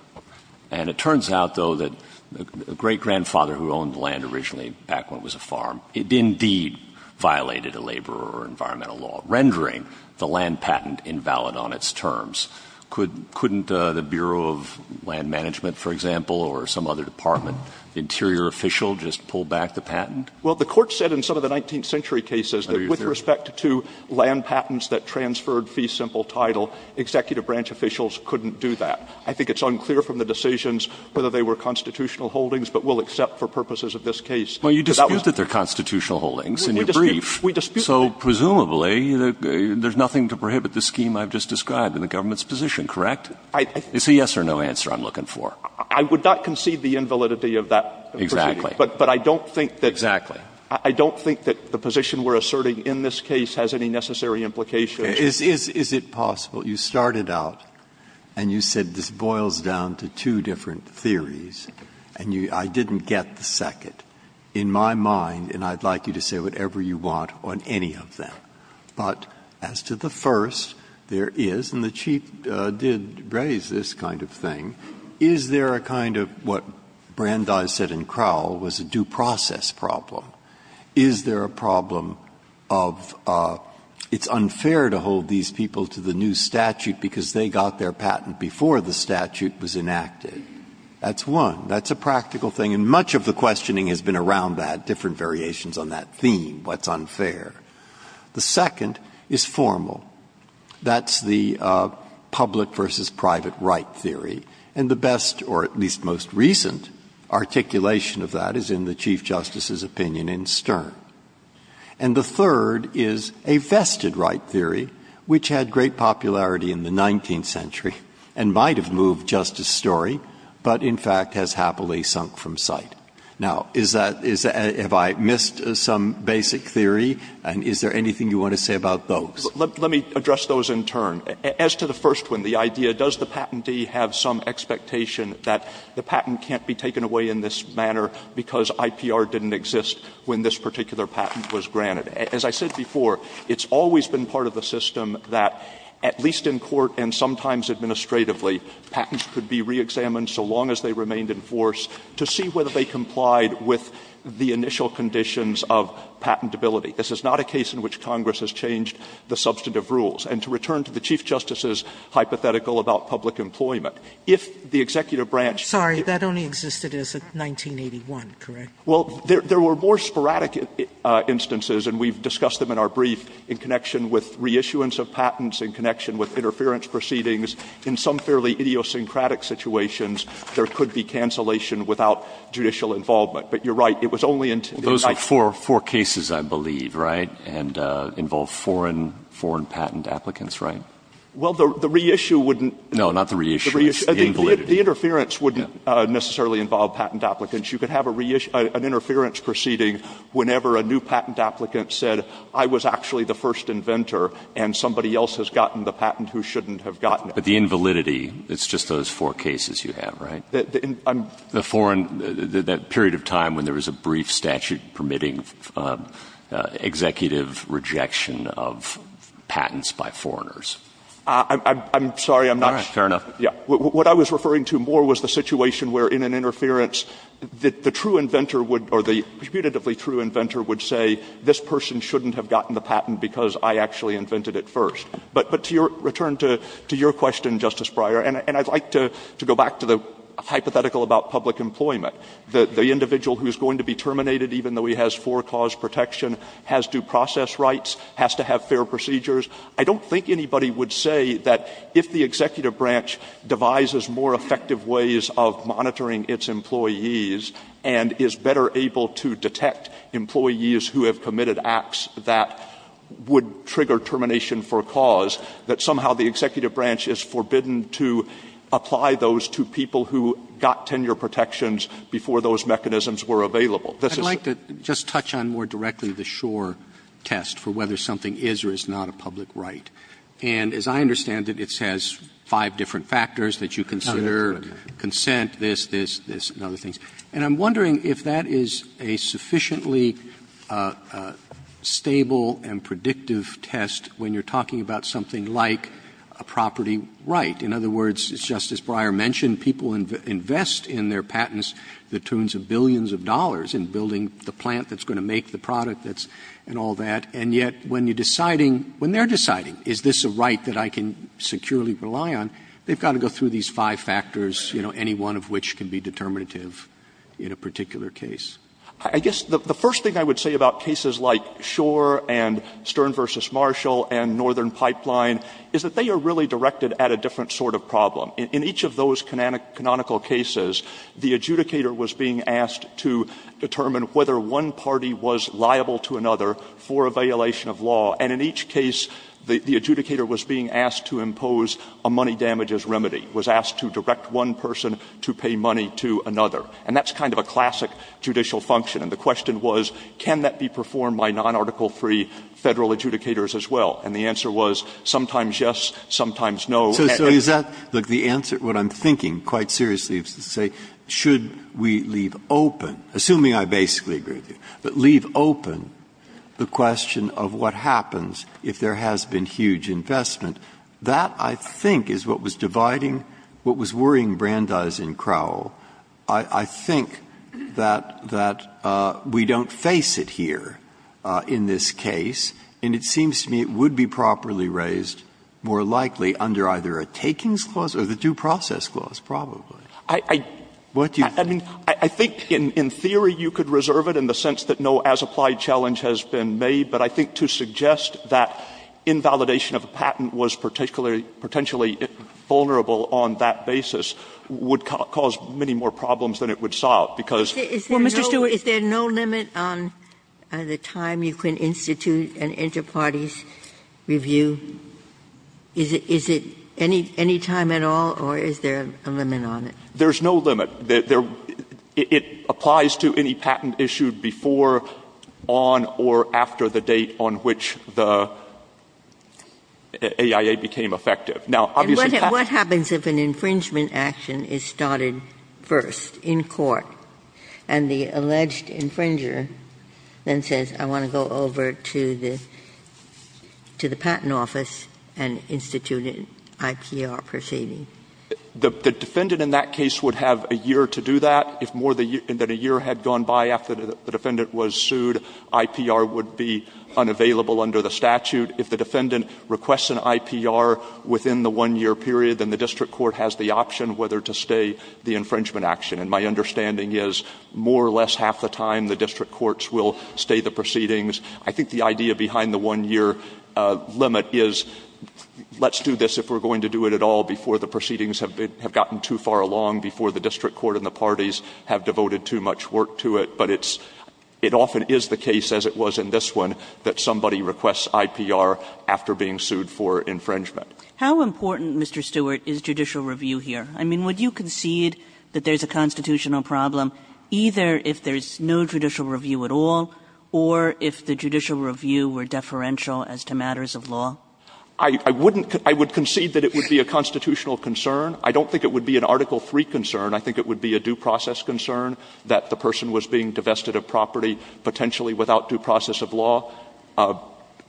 And it turns out, though, that the great-grandfather who owned the land originally back when it was a farm, it indeed violated a labor or environmental law, rendering the land patent invalid on its terms. Couldn't the Bureau of Land Management, for example, or some other department, the interior official, just pull back the patent? Well, the Court said in some of the 19th century cases that with respect to land patents that transferred fee simple title, executive branch officials couldn't do that. I think it's unclear from the decisions whether they were constitutional holdings, but we'll accept for purposes of this case. Breyer. Well, you dispute that they're constitutional holdings and you're briefed. So presumably, there's nothing to prohibit the scheme I've just described in the government's position, correct? It's a yes or no answer I'm looking for. I would not concede the invalidity of that. Exactly. But I don't think that the position we're asserting in this case has any necessary implications. Is it possible you started out and you said this boils down to two different theories, and I didn't get the second. In my mind, and I'd like you to say whatever you want on any of them, but as to the first, there is, and the Chief did raise this kind of thing, is there a kind of what Brandeis said in Crowell was a due process problem? Is there a problem of it's unfair to hold these people to the new statute because they got their patent before the statute was enacted? That's one. That's a practical thing. And much of the questioning has been around that, different variations on that theme, what's unfair. The second is formal. That's the public versus private right theory. And the best, or at least most recent, articulation of that is in the Chief Justice's opinion in Stern. And the third is a vested right theory, which had great popularity in the 19th century and might have moved Justice Story, but in fact has happily sunk from sight. Now, is that, have I missed some basic theory? And is there anything you want to say about those? Let me address those in turn. As to the first one, the idea, does the patentee have some expectation that the patent can't be taken away in this manner because IPR didn't exist when this particular patent was granted? As I said before, it's always been part of the system that, at least in court and sometimes administratively, patents could be reexamined so long as they remained in force to see whether they complied with the initial conditions of patentability. This is not a case in which Congress has changed the substantive rules. And to return to the Chief Justice's hypothetical about public employment, if the executive branch Sotomayor, I'm sorry, that only existed as of 1981, correct? Well, there were more sporadic instances, and we've discussed them in our brief, in connection with reissuance of patents, in connection with interference proceedings. In some fairly idiosyncratic situations, there could be cancellation without judicial involvement. But you're right, it was only in the United States. Those were four cases, I believe, right, and involved foreign patent applicants, right? Well, the reissue wouldn't. No, not the reissue. The interference wouldn't necessarily involve patent applicants. You could have an interference proceeding whenever a new patent applicant said, I was actually the first inventor, and somebody else has gotten the patent who shouldn't have gotten it. But the invalidity, it's just those four cases you have, right? The foreign, that period of time when there was a brief statute permitting executive rejection of patents by foreigners. I'm sorry, I'm not sure. All right. Fair enough. What I was referring to more was the situation where, in an interference, the true inventor would, or the reputatively true inventor would say, this person shouldn't have gotten the patent because I actually invented it first. But to your, return to your question, Justice Breyer, and I'd like to go back to the hypothetical about public employment. The individual who's going to be terminated, even though he has four-cause protection, has due process rights, has to have fair procedures. I don't think anybody would say that if the executive branch devises more effective ways of monitoring its employees and is better able to detect employees who have committed acts that would trigger termination for a cause, that somehow the executive branch is forbidden to apply those to people who got tenure protections before those mechanisms were available. This is the case. Roberts. I'd like to just touch on more directly the Shor test for whether something is or isn't a public right. And as I understand it, it has five different factors that you consider, consent, this, this, this, and other things. And I'm wondering if that is a sufficiently stable and predictive test when you're talking about something like a property right. In other words, as Justice Breyer mentioned, people invest in their patents the tunes of billions of dollars in building the plant that's going to make the product that's going to make the product, and all that, and yet when you're deciding, when they're deciding, is this a right that I can securely rely on, they've got to go through these five factors, you know, any one of which can be determinative in a particular case. Stewart. I guess the first thing I would say about cases like Shor and Stern v. Marshall and Northern Pipeline is that they are really directed at a different sort of problem. In each of those canonical cases, the adjudicator was being asked to determine whether one party was liable to another for a violation of law. And in each case, the adjudicator was being asked to impose a money damages remedy, was asked to direct one person to pay money to another. And that's kind of a classic judicial function. And the question was, can that be performed by non-Article III Federal adjudicators as well? And the answer was, sometimes yes, sometimes no. Breyer. So is that, look, the answer, what I'm thinking, quite seriously, is to say, should we leave open, assuming I basically agree with you, but leave open the question of what happens if there has been huge investment? That, I think, is what was dividing, what was worrying Brandeis and Crowell. I think that we don't face it here in this case, and it seems to me it would be properly raised more likely under either a takings clause or the due process clause, probably. What do you think? I mean, I think in theory you could reserve it in the sense that no as-applied challenge has been made, but I think to suggest that invalidation of a patent was particularly, potentially vulnerable on that basis would cause many more problems than it would solve, because, well, Mr. Stewart. Ginsburg. Is there no limit on the time you can institute an interparties review? Is it any time at all, or is there a limit on it? There's no limit. It applies to any patent issued before, on, or after the date on which the AIA became effective. Now, obviously patent — And what happens if an infringement action is started first in court, and the alleged infringer then says, I want to go over to the patent office and institute an IPR proceeding? The defendant in that case would have a year to do that. If more than a year had gone by after the defendant was sued, IPR would be unavailable under the statute. If the defendant requests an IPR within the one-year period, then the district court has the option whether to stay the infringement action. And my understanding is more or less half the time the district courts will stay the proceedings. I think the idea behind the one-year limit is let's do this if we're going to do it at all before the proceedings have gotten too far along, before the district court and the parties have devoted too much work to it. But it often is the case, as it was in this one, that somebody requests IPR after being sued for infringement. How important, Mr. Stewart, is judicial review here? I mean, would you concede that there's a constitutional problem either if there's no judicial review at all or if the judicial review were deferential as to matters of law? I wouldn't — I would concede that it would be a constitutional concern. I don't think it would be an Article III concern. I think it would be a due process concern that the person was being divested of property potentially without due process of law.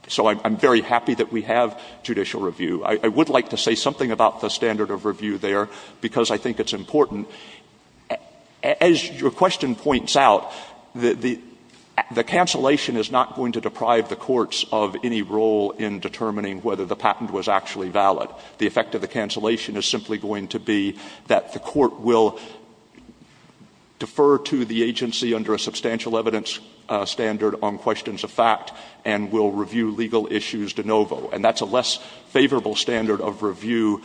So I'm very happy that we have judicial review. I would like to say something about the standard of review there because I think it's important. As your question points out, the cancellation is not going to deprive the courts of any role in determining whether the patent was actually valid. The effect of the cancellation is simply going to be that the court will defer to the agency under a substantial evidence standard on questions of fact and will review legal issues de novo. And that's a less favorable standard of review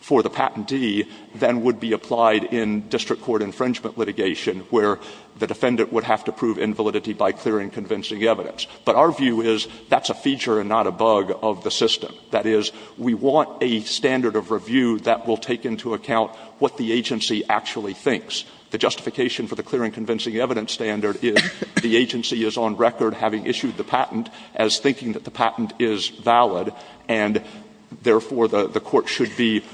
for the patentee than would be applied in district court infringement litigation where the defendant would have to prove invalidity by clearing convincing evidence. But our view is that's a feature and not a bug of the system. That is, we want a standard of review that will take into account what the agency actually thinks. The justification for the clearing convincing evidence standard is the agency is on record having issued the patent as thinking that the patent is valid, and therefore, the court should be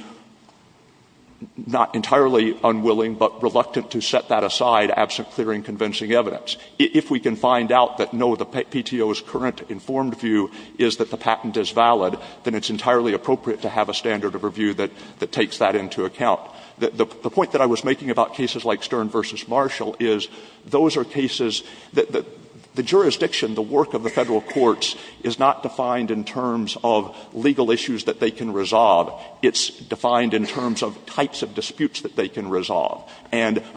not entirely unwilling but reluctant to set that aside absent clearing convincing evidence. If we can find out that no, the PTO's current informed view is that the patent is valid, then it's entirely appropriate to have a standard of review that takes that into account. The point that I was making about cases like Stern v. Marshall is those are cases that the jurisdiction, the work of the federal courts is not defined in terms of legal issues that they can resolve. And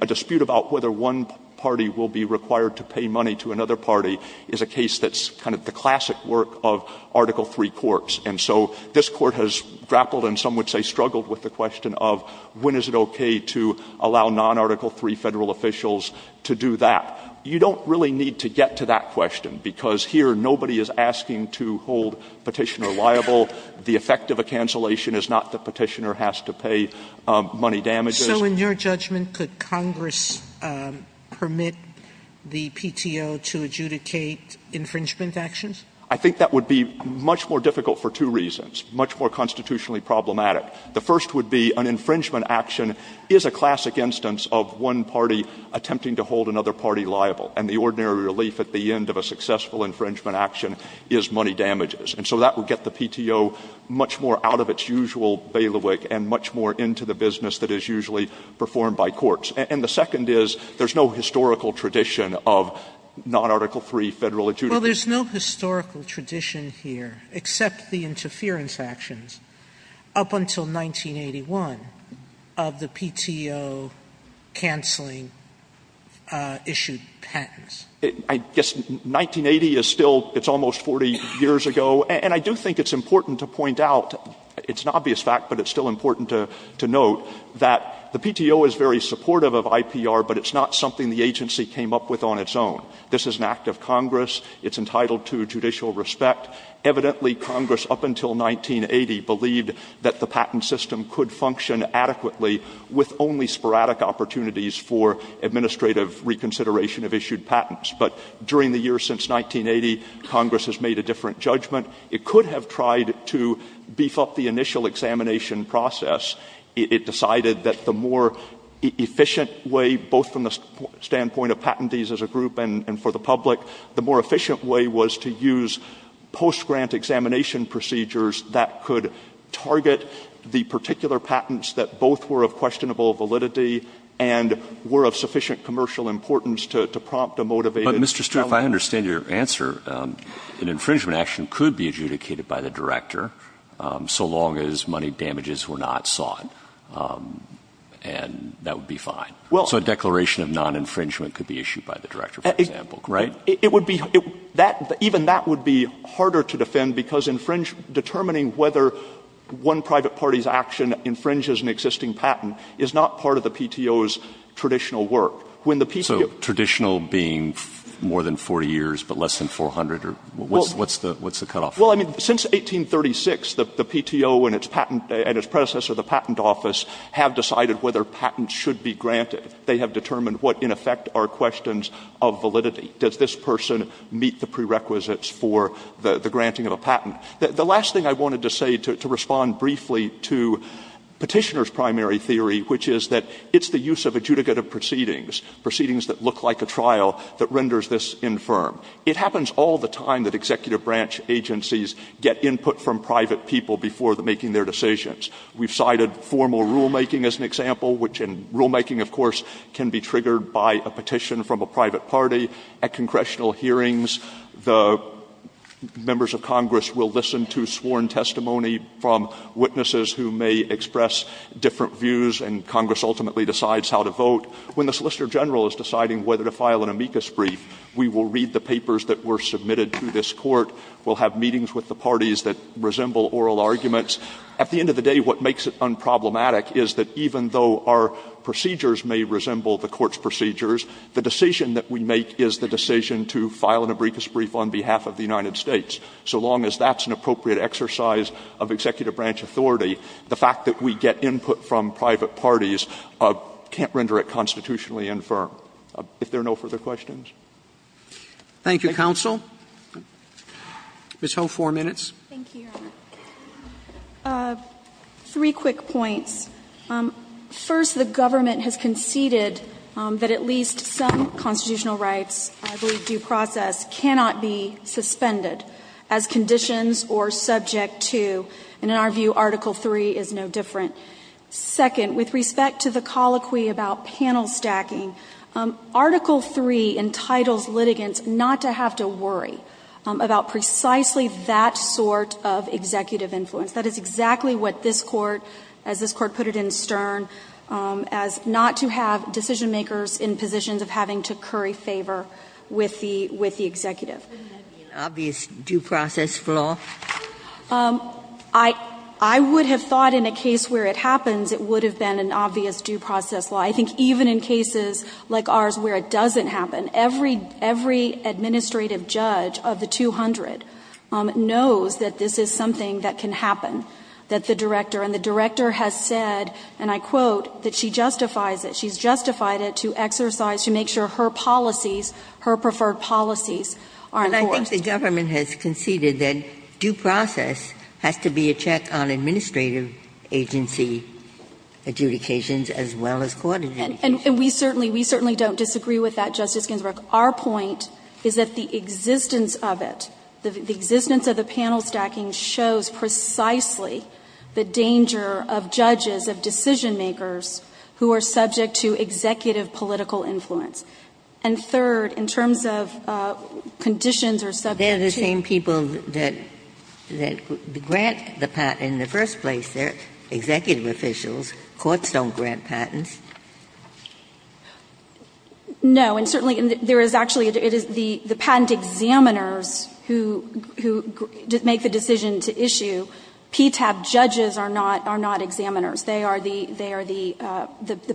a dispute about whether one party will be required to pay money to another party is a case that's kind of the classic work of Article III courts. And so this Court has grappled and some would say struggled with the question of when is it okay to allow non-Article III federal officials to do that. You don't really need to get to that question, because here nobody is asking to hold Petitioner liable. The effect of a cancellation is not that Petitioner has to pay money damages. Sotomayor, so in your judgment, could Congress permit the PTO to adjudicate infringement actions? I think that would be much more difficult for two reasons, much more constitutionally problematic. The first would be an infringement action is a classic instance of one party attempting to hold another party liable, and the ordinary relief at the end of a successful infringement action is money damages. And so that would get the PTO much more out of its usual bailiwick and much more into the business that is usually performed by courts. And the second is there's no historical tradition of non-Article III federal adjudicators. Sotomayor, well, there's no historical tradition here, except the interference actions up until 1981 of the PTO cancelling issued patents. I guess 1980 is still almost 40 years ago, and I do think it's important to point out, it's an obvious fact, but it's still important to note, that the PTO is very supportive of IPR, but it's not something the agency came up with on its own. This is an act of Congress. It's entitled to judicial respect. Evidently, Congress, up until 1980, believed that the patent system could function adequately with only sporadic opportunities for administrative reconsideration of issued patents. But during the years since 1980, Congress has made a different judgment. It could have tried to beef up the initial examination process. It decided that the more efficient way, both from the standpoint of patentees as a group and for the public, the more efficient way was to use post-grant examination procedures that could target the particular patents that both were of questionable validity and were of sufficient commercial importance to prompt a motivated seller. If I understand your answer, an infringement action could be adjudicated by the director, so long as money damages were not sought, and that would be fine. So a declaration of non-infringement could be issued by the director, for example, right? It would be — even that would be harder to defend, because infringement — determining whether one private party's action infringes an existing patent is not part of the PTO's traditional work. When the PTO — So traditional being more than 40 years, but less than 400, or what's the cutoff? Well, I mean, since 1836, the PTO and its predecessor, the Patent Office, have decided whether patents should be granted. They have determined what, in effect, are questions of validity. Does this person meet the prerequisites for the granting of a patent? The last thing I wanted to say, to respond briefly to Petitioner's primary theory, which is that it's the use of adjudicative proceedings, proceedings that look like a trial, that renders this infirm. It happens all the time that executive branch agencies get input from private people before making their decisions. We've cited formal rulemaking as an example, which in rulemaking, of course, can be triggered by a petition from a private party. At congressional hearings, the members of Congress will listen to sworn testimony from witnesses who may express different views, and Congress ultimately decides how to vote. When the Solicitor General is deciding whether to file an amicus brief, we will read the papers that were submitted to this Court. We'll have meetings with the parties that resemble oral arguments. At the end of the day, what makes it unproblematic is that even though our procedures may resemble the Court's procedures, the decision that we make is the decision to file an amicus brief on behalf of the United States, so long as that's an appropriate exercise of executive branch authority, the fact that we get input from private parties can't render it constitutionally infirm. If there are no further questions. Roberts. Thank you, counsel. Ms. Ho, four minutes. Thank you, Your Honor. Three quick points. First, the government has conceded that at least some constitutional rights, I believe due process, cannot be suspended as conditions or such. That's subject to, and in our view, Article III is no different. Second, with respect to the colloquy about panel stacking, Article III entitles litigants not to have to worry about precisely that sort of executive influence. That is exactly what this Court, as this Court put it in Stern, as not to have decision makers in positions of having to curry favor with the executive. Wouldn't that be an obvious due process flaw? I would have thought in a case where it happens, it would have been an obvious due process flaw. I think even in cases like ours where it doesn't happen, every administrative judge of the 200 knows that this is something that can happen, that the director and the director has said, and I quote, that she justifies it. She's justified it to exercise, to make sure her policies, her preferred policies are enforced. But I think the government has conceded that due process has to be a check on administrative agency adjudications as well as court adjudications. And we certainly, we certainly don't disagree with that, Justice Ginsburg. Our point is that the existence of it, the existence of the panel stacking, shows precisely the danger of judges, of decision makers, who are subject to executive political influence. And third, in terms of conditions or subject to the patent. Ginsburg. They're the same people that grant the patent in the first place. They're executive officials. Courts don't grant patents. No. And certainly there is actually, it is the patent examiners who make the decision to issue. PTAB judges are not examiners. They are the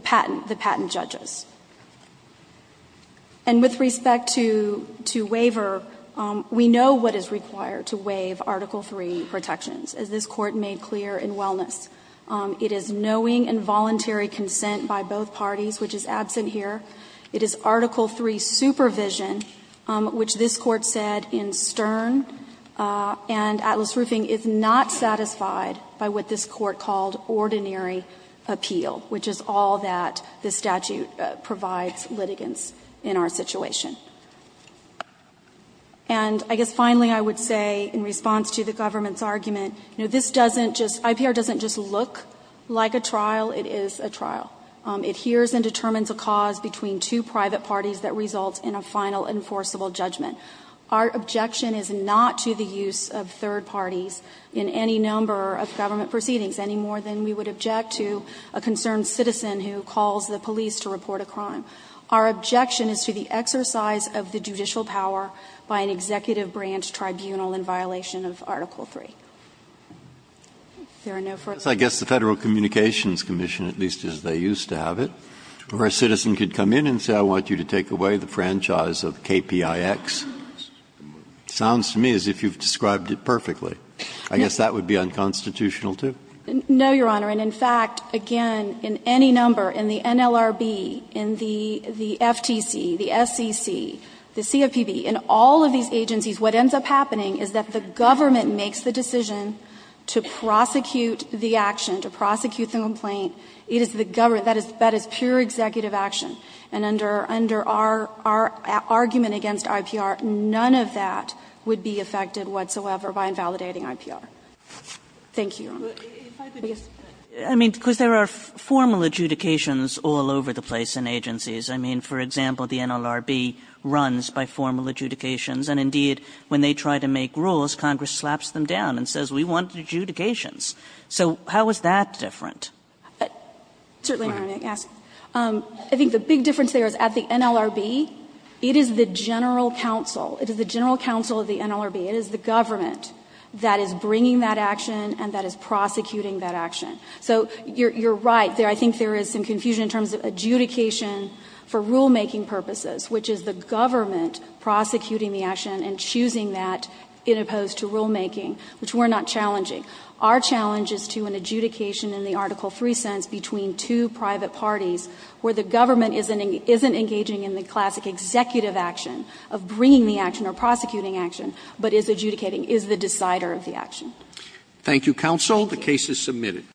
patent judges. And with respect to waiver, we know what is required to waive Article III protections, as this Court made clear in Wellness. It is knowing and voluntary consent by both parties, which is absent here. It is Article III supervision, which this Court said in Stern. And Atlas Roofing is not satisfied by what this Court called ordinary appeal, which is all that this statute provides litigants in our situation. And I guess finally I would say, in response to the government's argument, this doesn't just, IPR doesn't just look like a trial, it is a trial. It hears and determines a cause between two private parties that results in a final enforceable judgment. Our objection is not to the use of third parties in any number of government proceedings, any more than we would object to a concerned citizen who calls the police to report a crime. Our objection is to the exercise of the judicial power by an executive branch tribunal in violation of Article III. If there are no further questions. Breyer, I guess the Federal Communications Commission, at least as they used to have it, where a citizen could come in and say, I want you to take away the franchise of KPIX, sounds to me as if you have described it perfectly. I guess that would be unconstitutional, too. No, Your Honor. And in fact, again, in any number, in the NLRB, in the FTC, the SCC, the CFPB, in all of these agencies, what ends up happening is that the government makes the decision to prosecute the action, to prosecute the complaint. It is the government, that is pure executive action. And under our argument against IPR, none of that would be affected whatsoever by invalidating IPR. Thank you, Your Honor. I mean, because there are formal adjudications all over the place in agencies. I mean, for example, the NLRB runs by formal adjudications, and indeed, when they try to make rules, Congress slaps them down and says, we want adjudications. So how is that different? Certainly, Your Honor, I think the big difference there is at the NLRB, it is the general counsel, it is the general counsel of the NLRB, it is the government that is bringing that action and that is prosecuting that action. So you're right, I think there is some confusion in terms of adjudication for rulemaking purposes, which is the government prosecuting the action and choosing that as opposed to rulemaking, which we're not challenging. Our challenge is to an adjudication in the Article III sense between two private parties where the government isn't engaging in the classic executive action of bringing the action or prosecuting action, but is adjudicating, is the decider of the action. Thank you, counsel. The case is submitted.